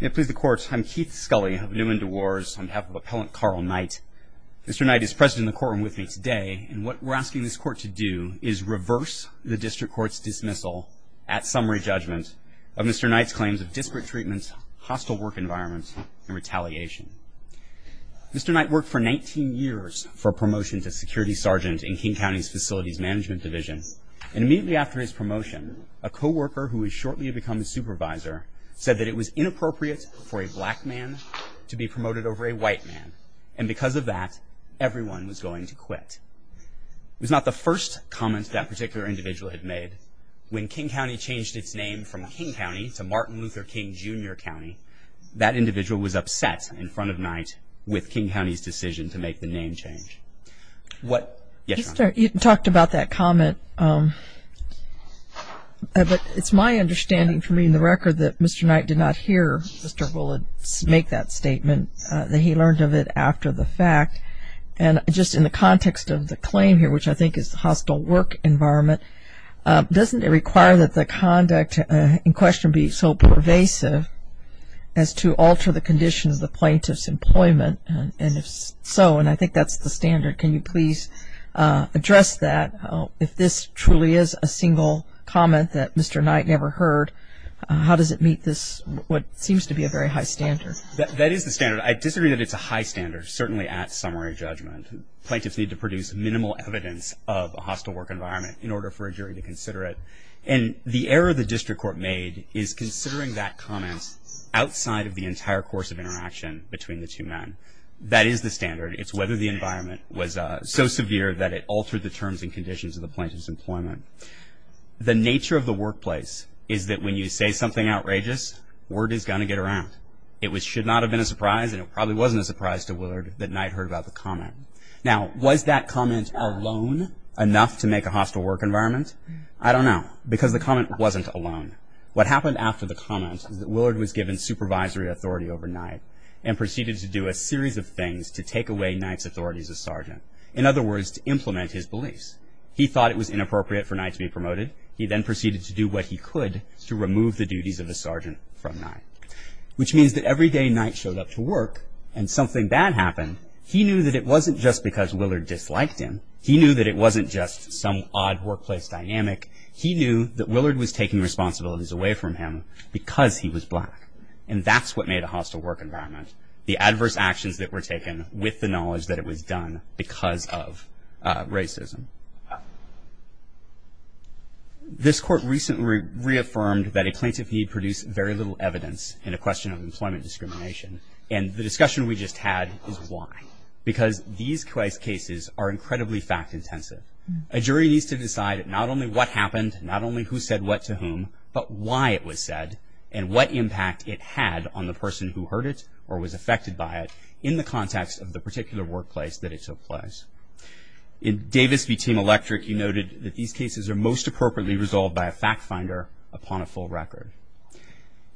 May it please the Court, I'm Keith Scully of Newman Dewars on behalf of Appellant Carl Knight. Mr. Knight is present in the courtroom with me today, and what we're asking this Court to do is reverse the District Court's dismissal at summary judgment of Mr. Knight's claims of disparate treatment, hostile work environment, and retaliation. Mr. Knight worked for 19 years for a promotion to security sergeant in King County's Facilities Management Division, and immediately after his promotion, a co-worker who was shortly to become the supervisor said that it was inappropriate for a black man to be promoted over a white man, and because of that, everyone was going to quit. It was not the first comment that particular individual had made. When King County changed its name from King County to Martin Luther King Jr. County, that individual was upset in front of Knight with King County's decision to make the name change. You talked about that comment, but it's my understanding from reading the record that Mr. Knight did not hear Mr. Bullard make that statement, that he learned of it after the fact. And just in the context of the claim here, which I think is the hostile work environment, doesn't it require that the conduct in question be so pervasive as to alter the conditions of the plaintiff's employment? And if so, and I think that's the standard, can you please address that? If this truly is a single comment that Mr. Knight never heard, how does it meet what seems to be a very high standard? That is the standard. I disagree that it's a high standard, certainly at summary judgment. Plaintiffs need to produce minimal evidence of a hostile work environment in order for a jury to consider it. And the error the district court made is considering that comment outside of the entire course of interaction between the two men. That is the standard. It's whether the environment was so severe that it altered the terms and conditions of the plaintiff's employment. The nature of the workplace is that when you say something outrageous, word is going to get around. It should not have been a surprise, and it probably wasn't a surprise to Willard that Knight heard about the comment. Now, was that comment alone enough to make a hostile work environment? I don't know, because the comment wasn't alone. What happened after the comment is that Willard was given supervisory authority over Knight and proceeded to do a series of things to take away Knight's authorities as sergeant. In other words, to implement his beliefs. He thought it was inappropriate for Knight to be promoted. He then proceeded to do what he could to remove the duties of the sergeant from Knight. Which means that every day Knight showed up to work and something bad happened, he knew that it wasn't just because Willard disliked him. He knew that it wasn't just some odd workplace dynamic. He knew that Willard was taking responsibilities away from him because he was black. And that's what made a hostile work environment. The adverse actions that were taken with the knowledge that it was done because of racism. This court recently reaffirmed that a plaintiff need produced very little evidence in a question of employment discrimination. And the discussion we just had is why. Because these cases are incredibly fact intensive. A jury needs to decide not only what happened, not only who said what to whom, but why it was said and what impact it had on the person who heard it or was affected by it in the context of the particular workplace that it took place. In Davis v. Team Electric, he noted that these cases are most appropriately resolved by a fact finder upon a full record.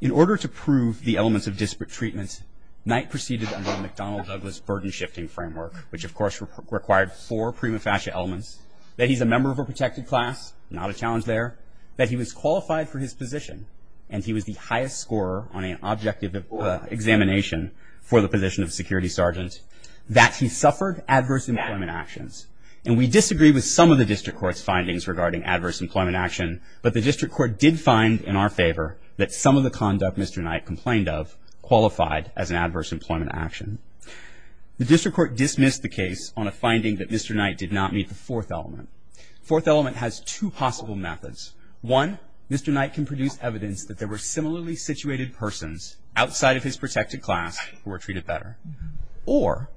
In order to prove the elements of disparate treatment, Knight proceeded under the McDonnell-Douglas burden shifting framework, which of course required four prima facie elements. That he's a member of a protected class, not a challenge there. That he was qualified for his position. And he was the highest scorer on an objective examination for the position of security sergeant. That he suffered adverse employment actions. And we disagree with some of the district court's findings regarding adverse employment action, but the district court did find in our favor that some of the conduct Mr. Knight complained of qualified as an adverse employment action. The district court dismissed the case on a finding that Mr. Knight did not meet the fourth element. Fourth element has two possible methods. One, Mr. Knight can produce evidence that there were similarly situated persons outside of his protected class who were treated better. Or,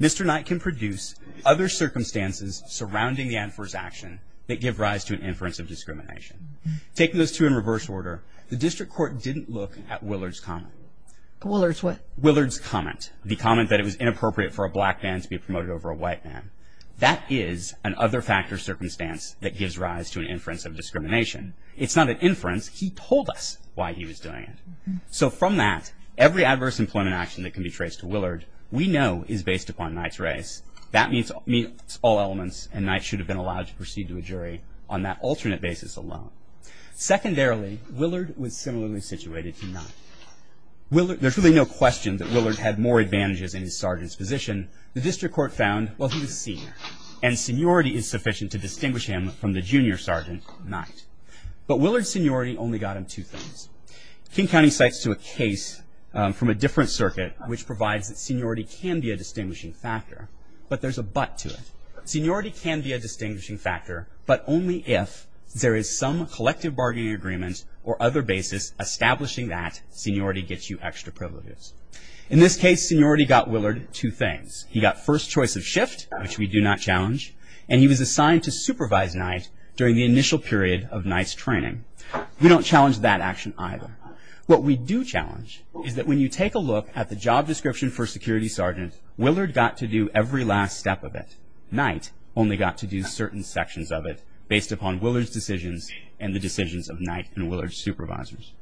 Mr. Knight can produce other circumstances surrounding the adverse action that give rise to an inference of discrimination. Taking those two in reverse order, the district court didn't look at Willard's comment. Willard's what? Willard's comment. The comment that it was inappropriate for a black man to be promoted over a white man. That is an other factor circumstance that gives rise to an inference of discrimination. It's not an inference. He told us why he was doing it. So from that, every adverse employment action that can be traced to Willard, we know is based upon Knight's race. That meets all elements, and Knight should have been allowed to proceed to a jury on that alternate basis alone. Secondarily, Willard was similarly situated to Knight. There's really no question that Willard had more advantages in his sergeant's position. The district court found, well, he was senior, and seniority is sufficient to distinguish him from the junior sergeant, Knight. But Willard's seniority only got him two things. King County cites to a case from a different circuit, which provides that seniority can be a distinguishing factor, but there's a but to it. Seniority can be a distinguishing factor, but only if there is some collective bargaining agreement or other basis establishing that seniority gets you extra privileges. In this case, seniority got Willard two things. He got first choice of shift, which we do not challenge, and he was assigned to supervise Knight during the initial period of Knight's training. We don't challenge that action either. What we do challenge is that when you take a look at the job description for security sergeant, Willard got to do every last step of it. Knight only got to do certain sections of it, based upon Willard's decisions and the decisions of Knight and Willard's supervisors.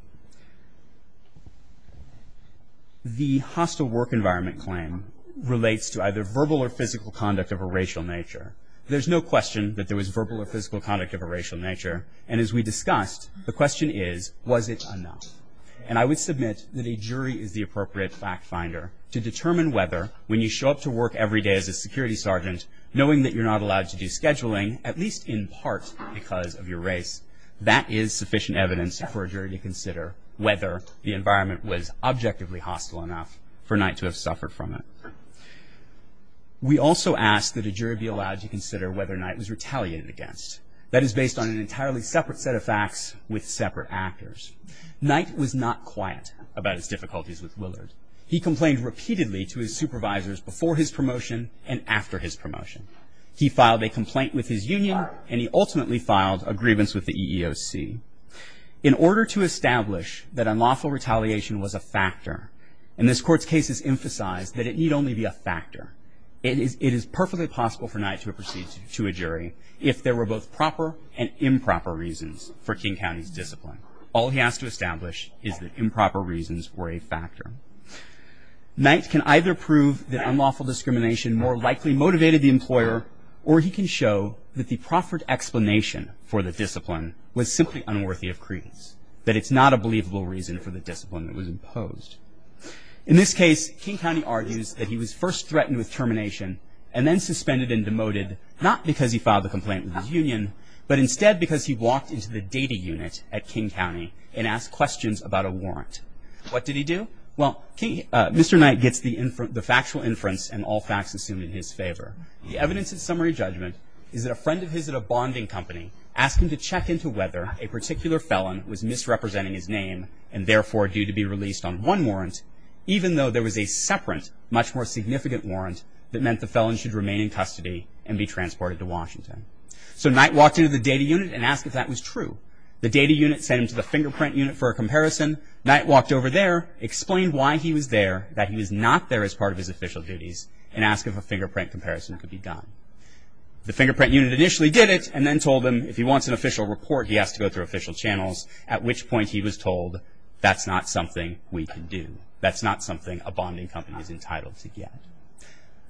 The hostile work environment claim relates to either verbal or physical conduct of a racial nature. There's no question that there was verbal or physical conduct of a racial nature, and as we discussed, the question is, was it enough? And I would submit that a jury is the appropriate fact finder to determine whether when you show up to work every day as a security sergeant, knowing that you're not allowed to do scheduling, at least in part because of your race, that is sufficient evidence for a jury to consider whether the environment was objectively hostile enough for Knight to have suffered from it. We also ask that a jury be allowed to consider whether Knight was retaliated against. That is based on an entirely separate set of facts with separate actors. Knight was not quiet about his difficulties with Willard. He complained repeatedly to his supervisors before his promotion and after his promotion. He filed a complaint with his union, and he ultimately filed a grievance with the EEOC. In order to establish that unlawful retaliation was a factor, and this court's cases emphasize that it need only be a factor, it is perfectly possible for Knight to have proceeded to a jury if there were both proper and improper reasons for King County's discipline. All he has to establish is that improper reasons were a factor. Knight can either prove that unlawful discrimination more likely motivated the employer, or he can show that the proffered explanation for the discipline was simply unworthy of credence, that it's not a believable reason for the discipline that was imposed. In this case, King County argues that he was first threatened with termination and then suspended and demoted, not because he filed a complaint with his union, but instead because he walked into the data unit at King County and asked questions about a warrant. What did he do? Well, Mr. Knight gets the factual inference and all facts assumed in his favor. The evidence of summary judgment is that a friend of his at a bonding company asked him to check into whether a particular felon was misrepresenting his name and therefore due to be released on one warrant, even though there was a separate, much more significant warrant that meant the felon should remain in custody and be transported to Washington. So Knight walked into the data unit and asked if that was true. The data unit sent him to the fingerprint unit for a comparison. Knight walked over there, explained why he was there, that he was not there as part of his official duties, and asked if a fingerprint comparison could be done. The fingerprint unit initially did it and then told him if he wants an official report, he has to go through official channels, at which point he was told, that's not something we can do. That's not something a bonding company is entitled to get.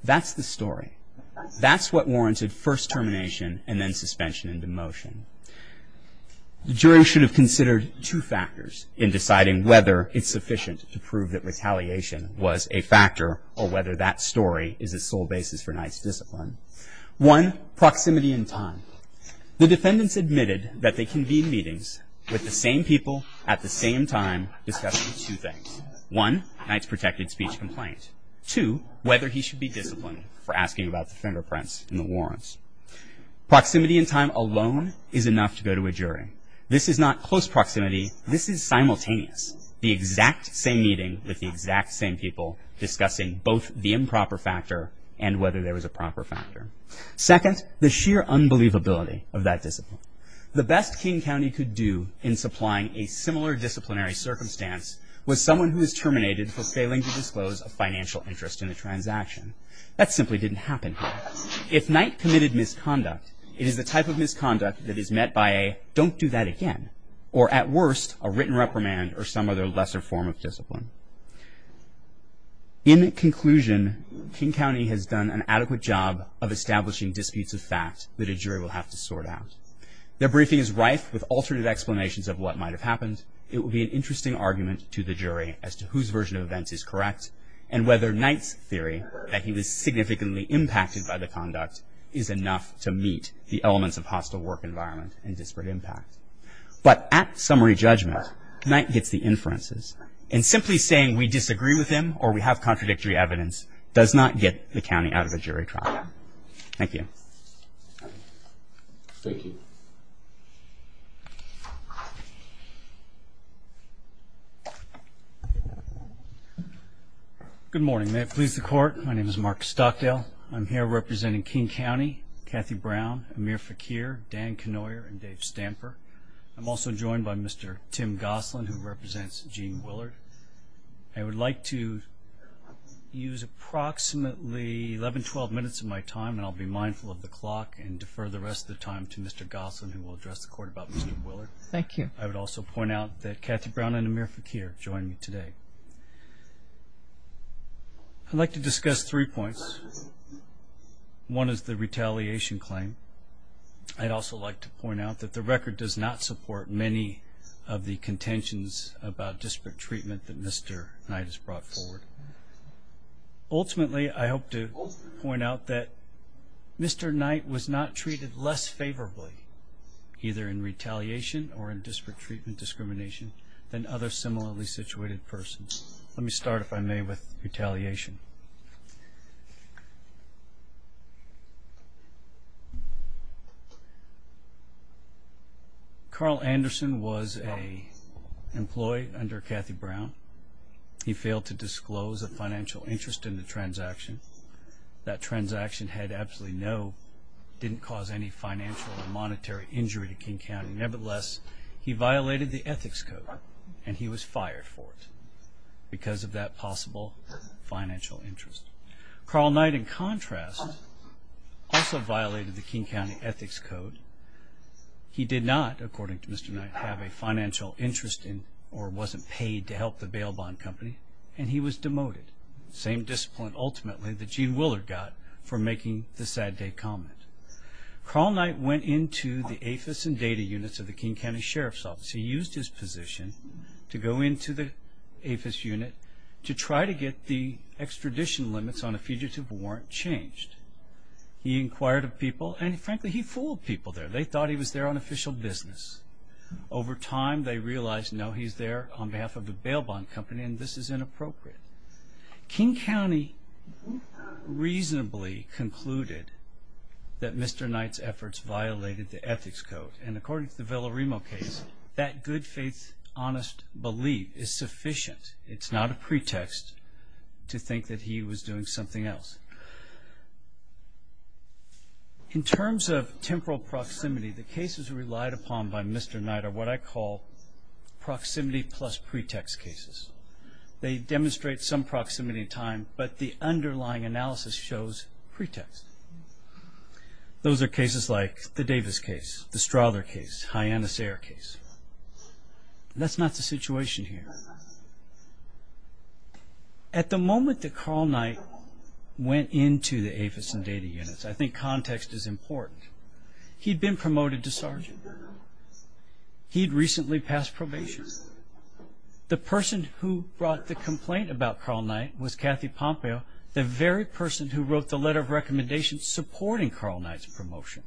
That's the story. That's what warranted first termination and then suspension and demotion. The jury should have considered two factors in deciding whether it's sufficient to prove that retaliation was a factor or whether that story is the sole basis for Knight's discipline. One, proximity and time. The defendants admitted that they convened meetings with the same people at the same time discussing two things. One, Knight's protected speech complaint. Two, whether he should be disciplined for asking about the fingerprints in the warrants. Proximity and time alone is enough to go to a jury. This is not close proximity. This is simultaneous. The exact same meeting with the exact same people discussing both the improper factor and whether there was a proper factor. Second, the sheer unbelievability of that discipline. The best King County could do in supplying a similar disciplinary circumstance was someone who is terminated for failing to disclose a financial interest in the transaction. That simply didn't happen here. If Knight committed misconduct, it is the type of misconduct that is met by a don't do that again or at worst a written reprimand or some other lesser form of discipline. In conclusion, King County has done an adequate job of establishing disputes of fact that a jury will have to sort out. Their briefing is rife with alternative explanations of what might have happened. It will be an interesting argument to the jury as to whose version of events is correct and whether Knight's theory that he was significantly impacted by the conduct is enough to meet the elements of hostile work environment and disparate impact. But at summary judgment, Knight gets the inferences and simply saying we disagree with him or we have contradictory evidence does not get the county out of a jury trial. Thank you. Thank you. Good morning. May it please the court. My name is Mark Stockdale. I'm here representing King County, Kathy Brown, Amir Fakir, Dan Knoyer, and Dave Stamper. I'm also joined by Mr. Tim Gosselin who represents Gene Willard. I would like to use approximately 11-12 minutes of my time and I'll be mindful of the clock and defer the rest of the time to Mr. Gosselin who will address the court about Mr. Willard. Thank you. I would also point out that Kathy Brown and Amir Fakir join me today. I'd like to discuss three points. One is the retaliation claim. I'd also like to point out that the record does not support many of the contentions about disparate treatment that Mr. Knight has brought forward. Ultimately, I hope to point out that Mr. Knight was not treated less favorably either in retaliation or in disparate treatment discrimination than other similarly situated persons. Let me start, if I may, with retaliation. Carl Anderson was an employee under Kathy Brown. He failed to disclose a financial interest in the transaction. That transaction had absolutely no, didn't cause any financial or monetary injury to King County. Nevertheless, he violated the Ethics Code and he was fired for it because of that possible financial interest. Carl Knight, in contrast, also violated the King County Ethics Code. He did not, according to Mr. Knight, have a financial interest in or wasn't paid to help the bail bond company and he was demoted. Same discipline, ultimately, that Gene Willard got for making the sad day comment. Carl Knight went into the AFIS and data units of the King County Sheriff's Office. He used his position to go into the AFIS unit to try to get the extradition limits on a fugitive warrant changed. He inquired of people and, frankly, he fooled people there. They thought he was there on official business. Over time, they realized, no, he's there on behalf of the bail bond company and this is inappropriate. King County reasonably concluded that Mr. Knight's efforts violated the Ethics Code and, according to the Villaremo case, that good faith, honest belief is sufficient. It's not a pretext to think that he was doing something else. In terms of temporal proximity, the cases relied upon by Mr. Knight are what I call proximity plus pretext cases. They demonstrate some proximity in time, but the underlying analysis shows pretext. Those are cases like the Davis case, the Strother case, Hyannis Eyre case. That's not the situation here. At the moment that Carl Knight went into the AFIS and data units, I think context is important. He'd been promoted to sergeant. He'd recently passed probation. The person who brought the complaint about Carl Knight was Kathy Pompeo, the very person who wrote the letter of recommendation supporting Carl Knight's promotion.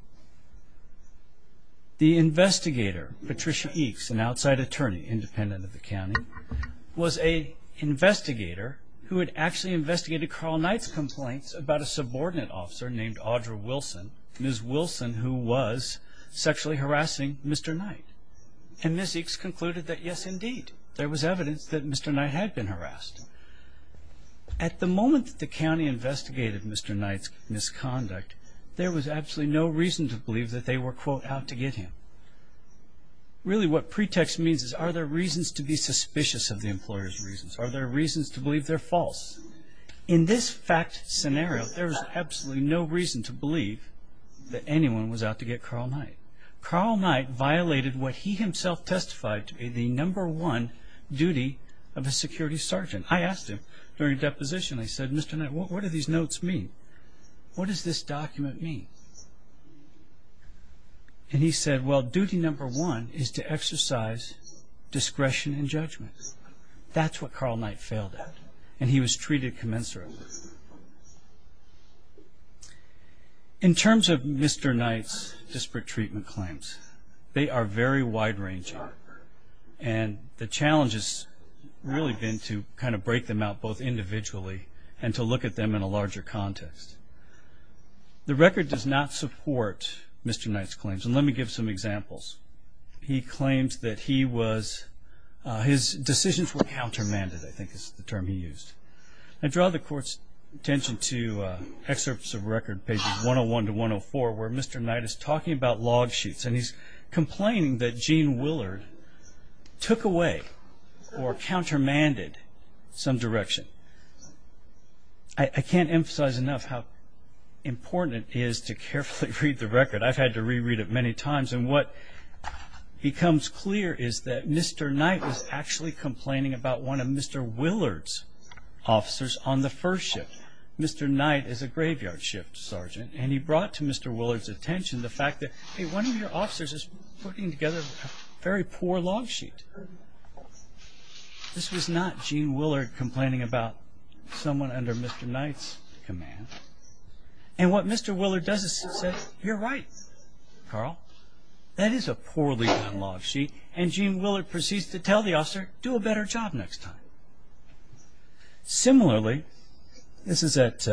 The investigator, Patricia Eakes, an outside attorney independent of the county, was an investigator who had actually investigated Carl Knight's complaints about a subordinate officer named Audra Wilson, Ms. Wilson who was sexually harassing Mr. Knight. And Ms. Eakes concluded that, yes, indeed, there was evidence that Mr. Knight had been harassed. At the moment that the county investigated Mr. Knight's misconduct, there was absolutely no reason to believe that they were, quote, out to get him. Really what pretext means is, are there reasons to be suspicious of the employer's reasons? Are there reasons to believe they're false? In this fact scenario, there was absolutely no reason to believe that anyone was out to get Carl Knight. Carl Knight violated what he himself testified to be the number one duty of a security sergeant. I asked him during deposition, I said, Mr. Knight, what do these notes mean? What does this document mean? And he said, well, duty number one is to exercise discretion and judgment. That's what Carl Knight failed at. And he was treated commensurately. In terms of Mr. Knight's disparate treatment claims, they are very wide-ranging. And the challenge has really been to kind of break them out both individually and to look at them in a larger context. The record does not support Mr. Knight's claims. And let me give some examples. He claims that he was, his decisions were countermanded, I think is the term he used. I draw the court's attention to excerpts of record, pages 101 to 104, where Mr. Knight is talking about log sheets. And he's complaining that Gene Willard took away or countermanded some direction. I can't emphasize enough how important it is to carefully read the record. I've had to reread it many times. And what becomes clear is that Mr. Knight was actually complaining about one of Mr. Willard's officers on the first shift. Mr. Knight is a graveyard shift sergeant. And he brought to Mr. Willard's attention the fact that, hey, one of your officers is putting together a very poor log sheet. This was not Gene Willard complaining about someone under Mr. Knight's command. And what Mr. Willard does is say, you're right, Carl. That is a poorly done log sheet. And Gene Willard proceeds to tell the officer, do a better job next time. Similarly, this is at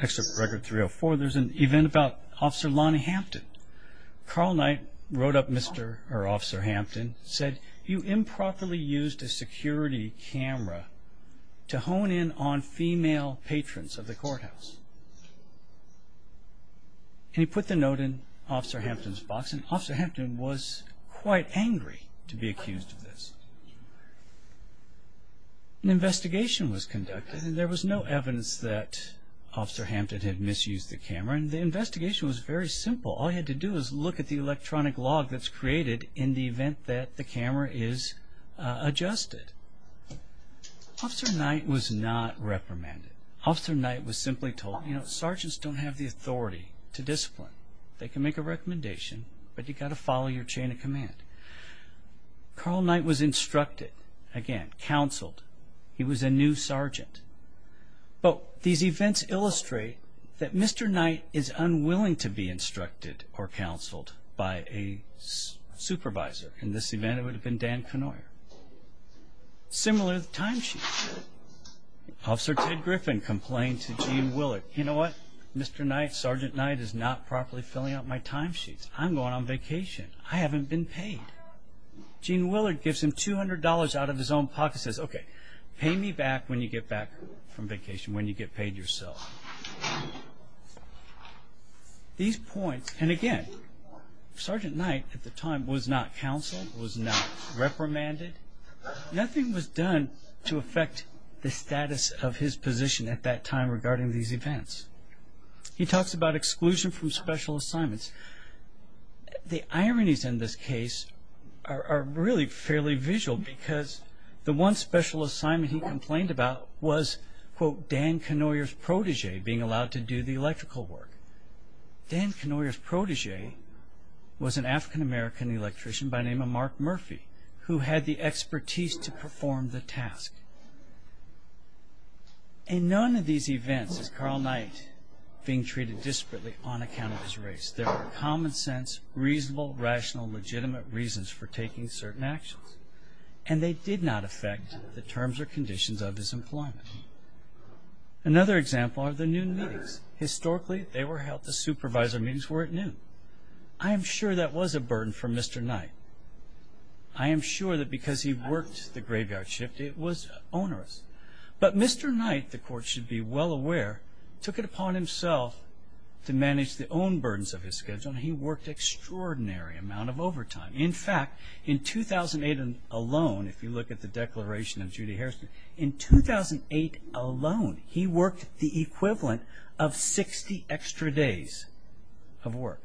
Excerpt from Record 304. There's an event about Officer Lonnie Hampton. Carl Knight wrote up Mr. or Officer Hampton and said, you improperly used a security camera to hone in on female patrons of the courthouse. And he put the note in Officer Hampton's box. And Officer Hampton was quite angry to be accused of this. An investigation was conducted. And there was no evidence that Officer Hampton had misused the camera. And the investigation was very simple. All he had to do was look at the electronic log that's created in the event that the camera is adjusted. Officer Knight was not reprimanded. Officer Knight was simply told, you know, sergeants don't have the authority to discipline. They can make a recommendation, but you've got to follow your chain of command. Carl Knight was instructed, again, counseled. He was a new sergeant. But these events illustrate that Mr. Knight is unwilling to be instructed or counseled by a supervisor. In this event, it would have been Dan Knoyer. Similar time sheet. Officer Ted Griffin complained to Gene Willard. You know what, Mr. Knight, Sergeant Knight is not properly filling out my time sheets. I'm going on vacation. I haven't been paid. Gene Willard gives him $200 out of his own pocket and says, okay, pay me back when you get back from vacation, when you get paid yourself. These points, and again, Sergeant Knight at the time was not counseled, was not reprimanded. Nothing was done to affect the status of his position at that time regarding these events. He talks about exclusion from special assignments. The ironies in this case are really fairly visual because the one special assignment he complained about was, quote, Dan Knoyer's protege being allowed to do the electrical work. Dan Knoyer's protege was an African-American electrician by the name of Mark Murphy, who had the expertise to perform the task. In none of these events is Carl Knight being treated disparately on account of his race. There were common sense, reasonable, rational, legitimate reasons for taking certain actions, and they did not affect the terms or conditions of his employment. Another example are the noon meetings. Historically, they were held at the supervisor meetings where at noon. I am sure that was a burden for Mr. Knight. I am sure that because he worked the graveyard shift, it was onerous. But Mr. Knight, the court should be well aware, took it upon himself to manage the own burdens of his schedule, and he worked an extraordinary amount of overtime. In fact, in 2008 alone, if you look at the declaration of Judy Harrison, in 2008 alone, he worked the equivalent of 60 extra days of work.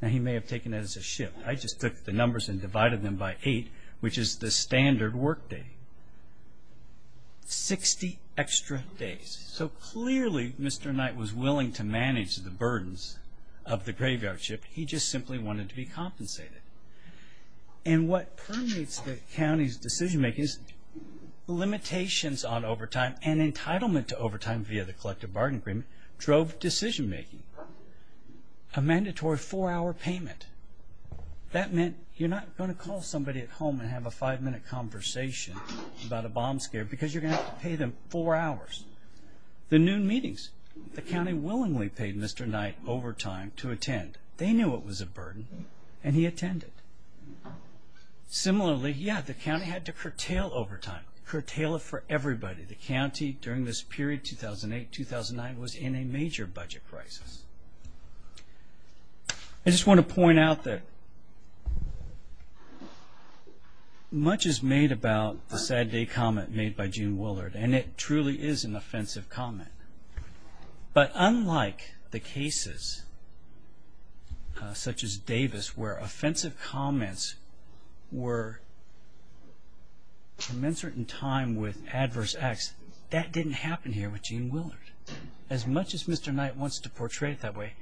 Now, he may have taken it as a shift. I just took the numbers and divided them by 8, which is the standard work day. Sixty extra days. So clearly, Mr. Knight was willing to manage the burdens of the graveyard shift. He just simply wanted to be compensated. And what permits the county's decision-making is limitations on overtime and entitlement to overtime via the collective bargain agreement drove decision-making. A mandatory four-hour payment. That meant you're not going to call somebody at home and have a five-minute conversation about a bomb scare because you're going to have to pay them four hours. The noon meetings, the county willingly paid Mr. Knight overtime to attend. They knew it was a burden, and he attended. Similarly, yeah, the county had to curtail overtime, curtail it for everybody. The county during this period, 2008-2009, was in a major budget crisis. I just want to point out that much is made about the sad day comment made by June Willard, and it truly is an offensive comment. But unlike the cases, such as Davis, where offensive comments were commensurate in time with adverse acts, that didn't happen here with June Willard. As much as Mr. Knight wants to portray it that way,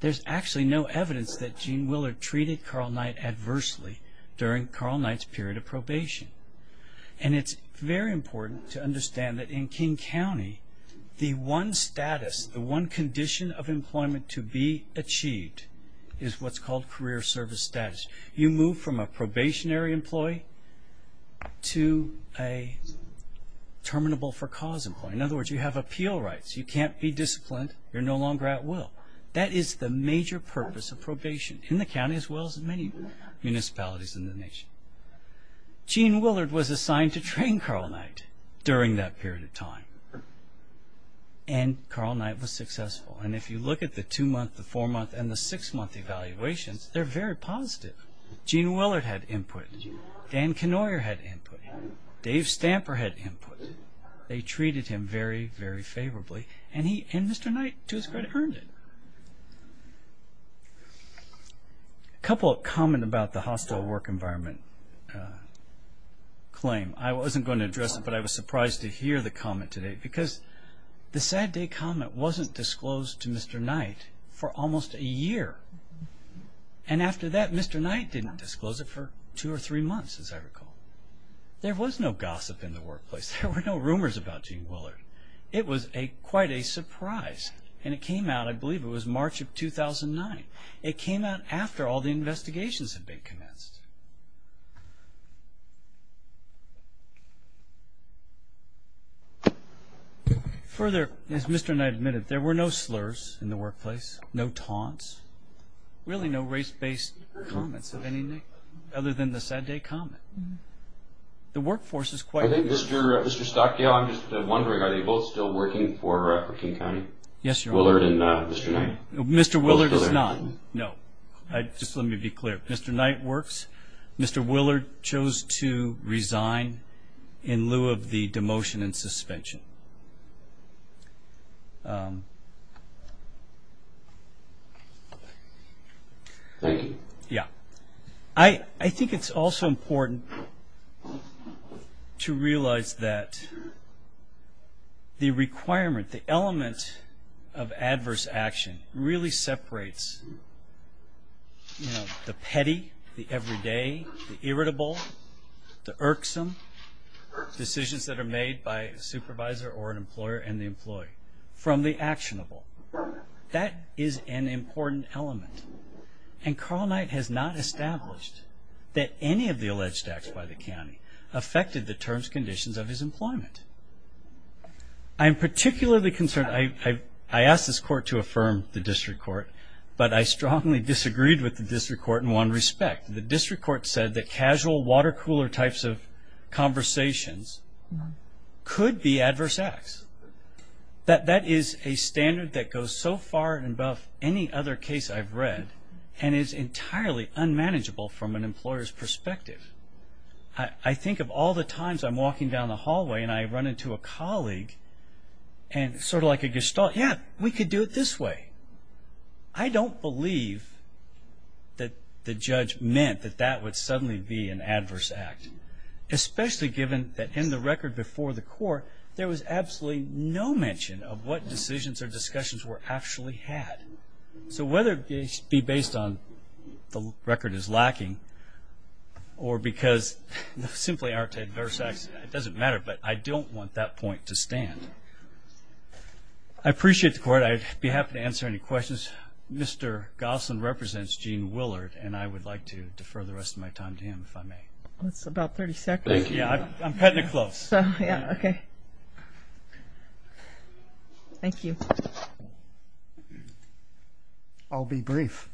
there's actually no evidence that June Willard treated Carl Knight adversely during Carl Knight's period of probation. It's very important to understand that in King County, the one status, the one condition of employment to be achieved is what's called career service status. You move from a probationary employee to a terminable-for-cause employee. In other words, you have appeal rights. You can't be disciplined. You're no longer at will. That is the major purpose of probation in the county as well as in many municipalities in the nation. June Willard was assigned to train Carl Knight during that period of time, and Carl Knight was successful. And if you look at the two-month, the four-month, and the six-month evaluations, they're very positive. June Willard had input. Dan Knoyer had input. Dave Stamper had input. They treated him very, very favorably, and Mr. Knight, to his credit, earned it. A couple of comments about the hostile work environment claim. I wasn't going to address it, but I was surprised to hear the comment today because the Sad Day comment wasn't disclosed to Mr. Knight for almost a year. And after that, Mr. Knight didn't disclose it for two or three months, as I recall. There was no gossip in the workplace. There were no rumors about June Willard. It was quite a surprise. And it came out, I believe it was March of 2009. It came out after all the investigations had been commenced. Further, as Mr. Knight admitted, there were no slurs in the workplace, no taunts, really no race-based comments of any other than the Sad Day comment. The workforce is quite good. Mr. Stockdale, I'm just wondering, are they both still working for King County? Willard and Mr. Knight? Mr. Willard is not, no. Just let me be clear. Mr. Knight works. Mr. Willard chose to resign in lieu of the demotion and suspension. Thank you. Yeah. I think it's also important to realize that the requirement, the element of adverse action really separates the petty, the everyday, the irritable, the irksome decisions that are made by a supervisor or an employer and the employee from the actionable. That is an important element. And Carl Knight has not established that any of the alleged acts by the county affected the terms and conditions of his employment. I'm particularly concerned. I asked this court to affirm the district court, but I strongly disagreed with the district court in one respect. The district court said that casual water-cooler types of conversations could be adverse acts. That is a standard that goes so far above any other case I've read and is entirely unmanageable from an employer's perspective. I think of all the times I'm walking down the hallway and I run into a colleague and sort of like a gestalt, yeah, we could do it this way. I don't believe that the judge meant that that would suddenly be an adverse act, especially given that in the record before the court, there was absolutely no mention of what decisions or discussions were actually had. So whether it be based on the record is lacking or because they simply aren't adverse acts, it doesn't matter, but I don't want that point to stand. I appreciate the court. I'd be happy to answer any questions. Mr. Gosselin represents Gene Willard, and I would like to defer the rest of my time to him if I may. That's about 30 seconds. I'm cutting it close. Yeah, okay. Thank you. I'll be brief.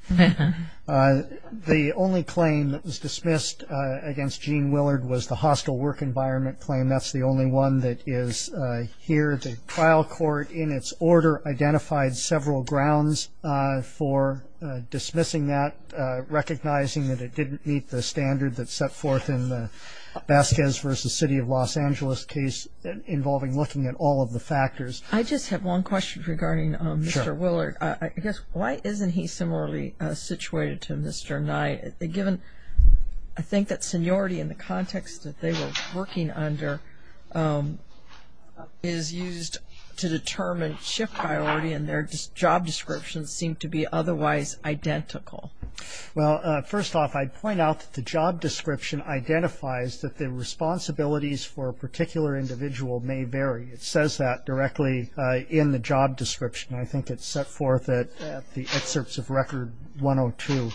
The only claim that was dismissed against Gene Willard was the hostile work environment claim. That's the only one that is here. The trial court in its order identified several grounds for dismissing that, recognizing that it didn't meet the standard that's set forth in the Vasquez v. City of Los Angeles case involving looking at all of the factors. I just have one question regarding Mr. Willard. I guess why isn't he similarly situated to Mr. Nye, given I think that seniority in the context that they were working under is used to Well, first off, I'd point out that the job description identifies that the responsibilities for a particular individual may vary. It says that directly in the job description. I think it's set forth at the excerpts of Record 102.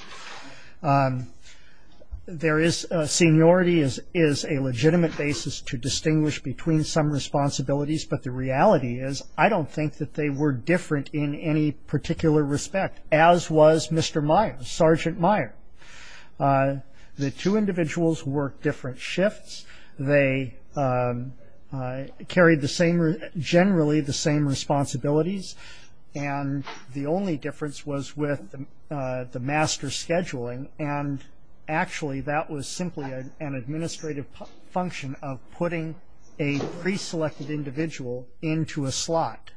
Seniority is a legitimate basis to distinguish between some responsibilities, but the reality is I don't think that they were different in any particular respect, as was Mr. Nye, Sergeant Nye. The two individuals worked different shifts. They carried generally the same responsibilities, and the only difference was with the master scheduling, and actually that was simply an administrative function of putting a pre-selected individual into a slot.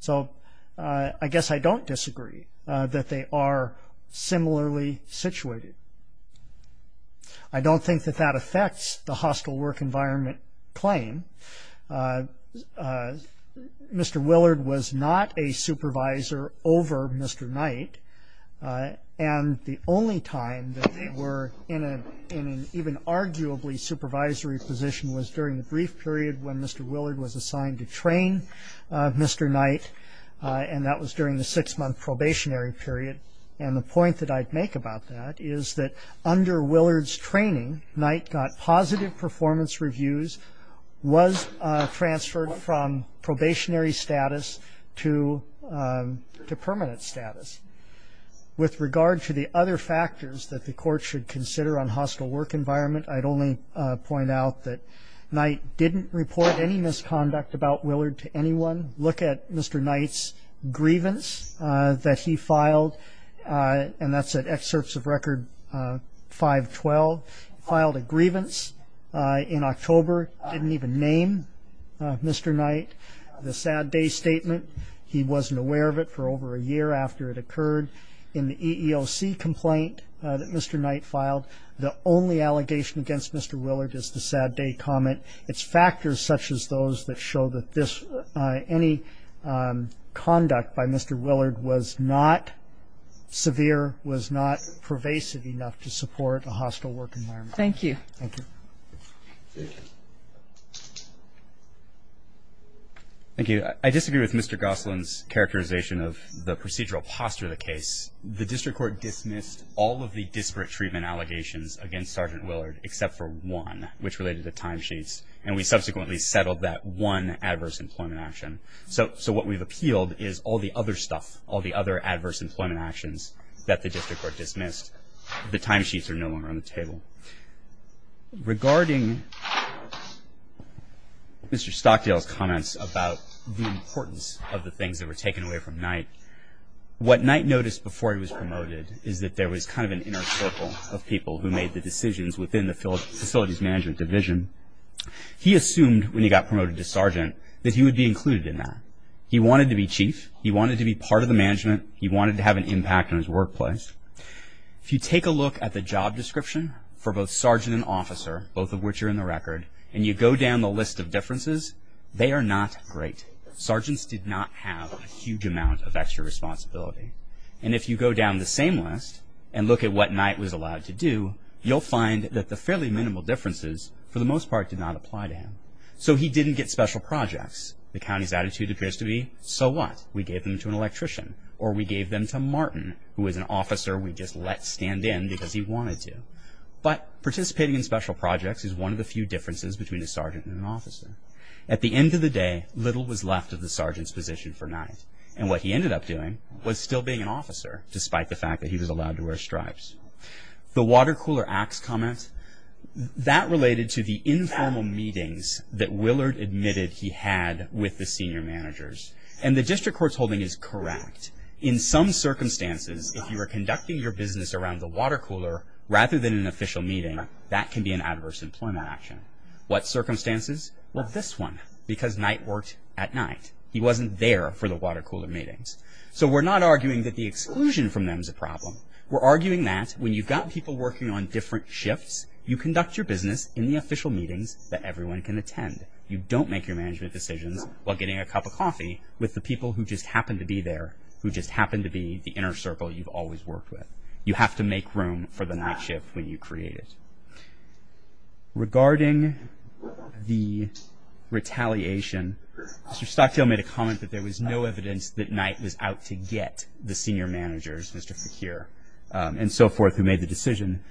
So I guess I don't disagree that they are similarly situated. I don't think that that affects the hostile work environment claim. Mr. Willard was not a supervisor over Mr. Nye, and the only time that they were in an even arguably supervisory position was during the brief period when Mr. Willard was assigned to train Mr. Nye, and that was during the six-month probationary period. And the point that I'd make about that is that under Willard's training, Nye got positive performance reviews, was transferred from probationary status to permanent status. With regard to the other factors that the court should consider on hostile work environment, I'd only point out that Nye didn't report any misconduct about Willard to anyone. Look at Mr. Nye's grievance that he filed, and that's at Excerpts of Record 512. He filed a grievance in October. He didn't even name Mr. Nye. The sad day statement, he wasn't aware of it for over a year after it occurred. In the EEOC complaint that Mr. Nye filed, the only allegation against Mr. Willard is the sad day comment. It's factors such as those that show that any conduct by Mr. Willard was not severe, was not pervasive enough to support a hostile work environment. Thank you. Thank you. Thank you. I disagree with Mr. Gosselin's characterization of the procedural posture of the case. The district court dismissed all of the disparate treatment allegations against Sergeant Willard except for one, which related to timesheets, and we subsequently settled that one adverse employment action. So what we've appealed is all the other stuff, all the other adverse employment actions that the district court dismissed. The timesheets are no longer on the table. Regarding Mr. Stockdale's comments about the importance of the things that were taken away from Nye, what Nye noticed before he was promoted is that there was kind of an inner circle of people who made the decisions within the Facilities Management Division. He assumed when he got promoted to sergeant that he would be included in that. He wanted to be chief. He wanted to be part of the management. He wanted to have an impact on his workplace. If you take a look at the job description for both sergeant and officer, both of which are in the record, and you go down the list of differences, they are not great. Sergeants did not have a huge amount of extra responsibility. And if you go down the same list and look at what Nye was allowed to do, you'll find that the fairly minimal differences, for the most part, did not apply to him. So he didn't get special projects. The county's attitude appears to be, so what? We gave them to an electrician, or we gave them to Martin, who was an officer we just let stand in because he wanted to. But participating in special projects is one of the few differences between a sergeant and an officer. At the end of the day, little was left of the sergeant's position for Nye. And what he ended up doing was still being an officer, despite the fact that he was allowed to wear stripes. The water cooler acts comment, that related to the informal meetings that Willard admitted he had with the senior managers. And the district court's holding is correct. In some circumstances, if you are conducting your business around the water cooler, rather than an official meeting, that can be an adverse employment action. What circumstances? Well, this one, because Nye worked at night. He wasn't there for the water cooler meetings. So we're not arguing that the exclusion from them is a problem. We're arguing that when you've got people working on different shifts, you conduct your business in the official meetings that everyone can attend. You don't make your management decisions while getting a cup of coffee with the people who just happen to be there, who just happen to be the inner circle you've always worked with. You have to make room for the night shift when you create it. Regarding the retaliation, Mr. Stockdale made a comment that there was no evidence that Nye was out to get the senior managers, Mr. Fekir and so forth, who made the decision.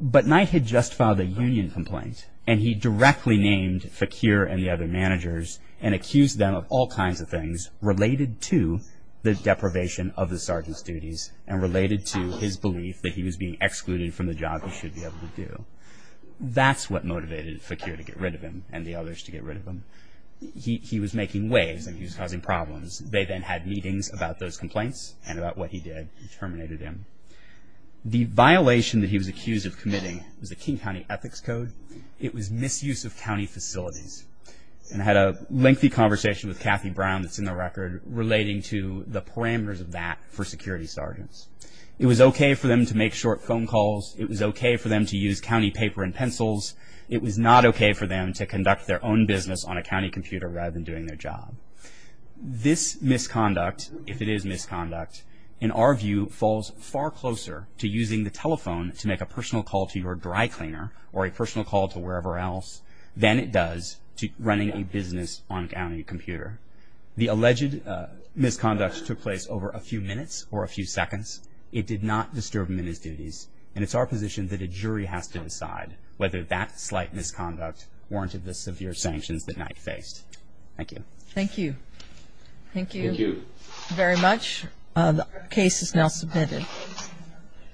But Nye had just filed a union complaint, and he directly named Fekir and the other managers and accused them of all kinds of things related to the deprivation of the sergeant's duties and related to his belief that he was being excluded from the job he should be able to do. That's what motivated Fekir to get rid of him and the others to get rid of him. He was making waves and he was causing problems. They then had meetings about those complaints and about what he did and terminated him. The violation that he was accused of committing was the King County Ethics Code. It was misuse of county facilities, and had a lengthy conversation with Kathy Brown that's in the record relating to the parameters of that for security sergeants. It was okay for them to make short phone calls. It was okay for them to use county paper and pencils. It was not okay for them to conduct their own business on a county computer rather than doing their job. This misconduct, if it is misconduct, in our view falls far closer to using the telephone to make a personal call to your dry cleaner or a personal call to wherever else than it does to running a business on a county computer. The alleged misconduct took place over a few minutes or a few seconds. It did not disturb men's duties, and it's our position that a jury has to decide whether that slight misconduct warranted the severe sanctions that Knight faced. Thank you. Thank you. Thank you. Thank you. Very much. The case is now submitted.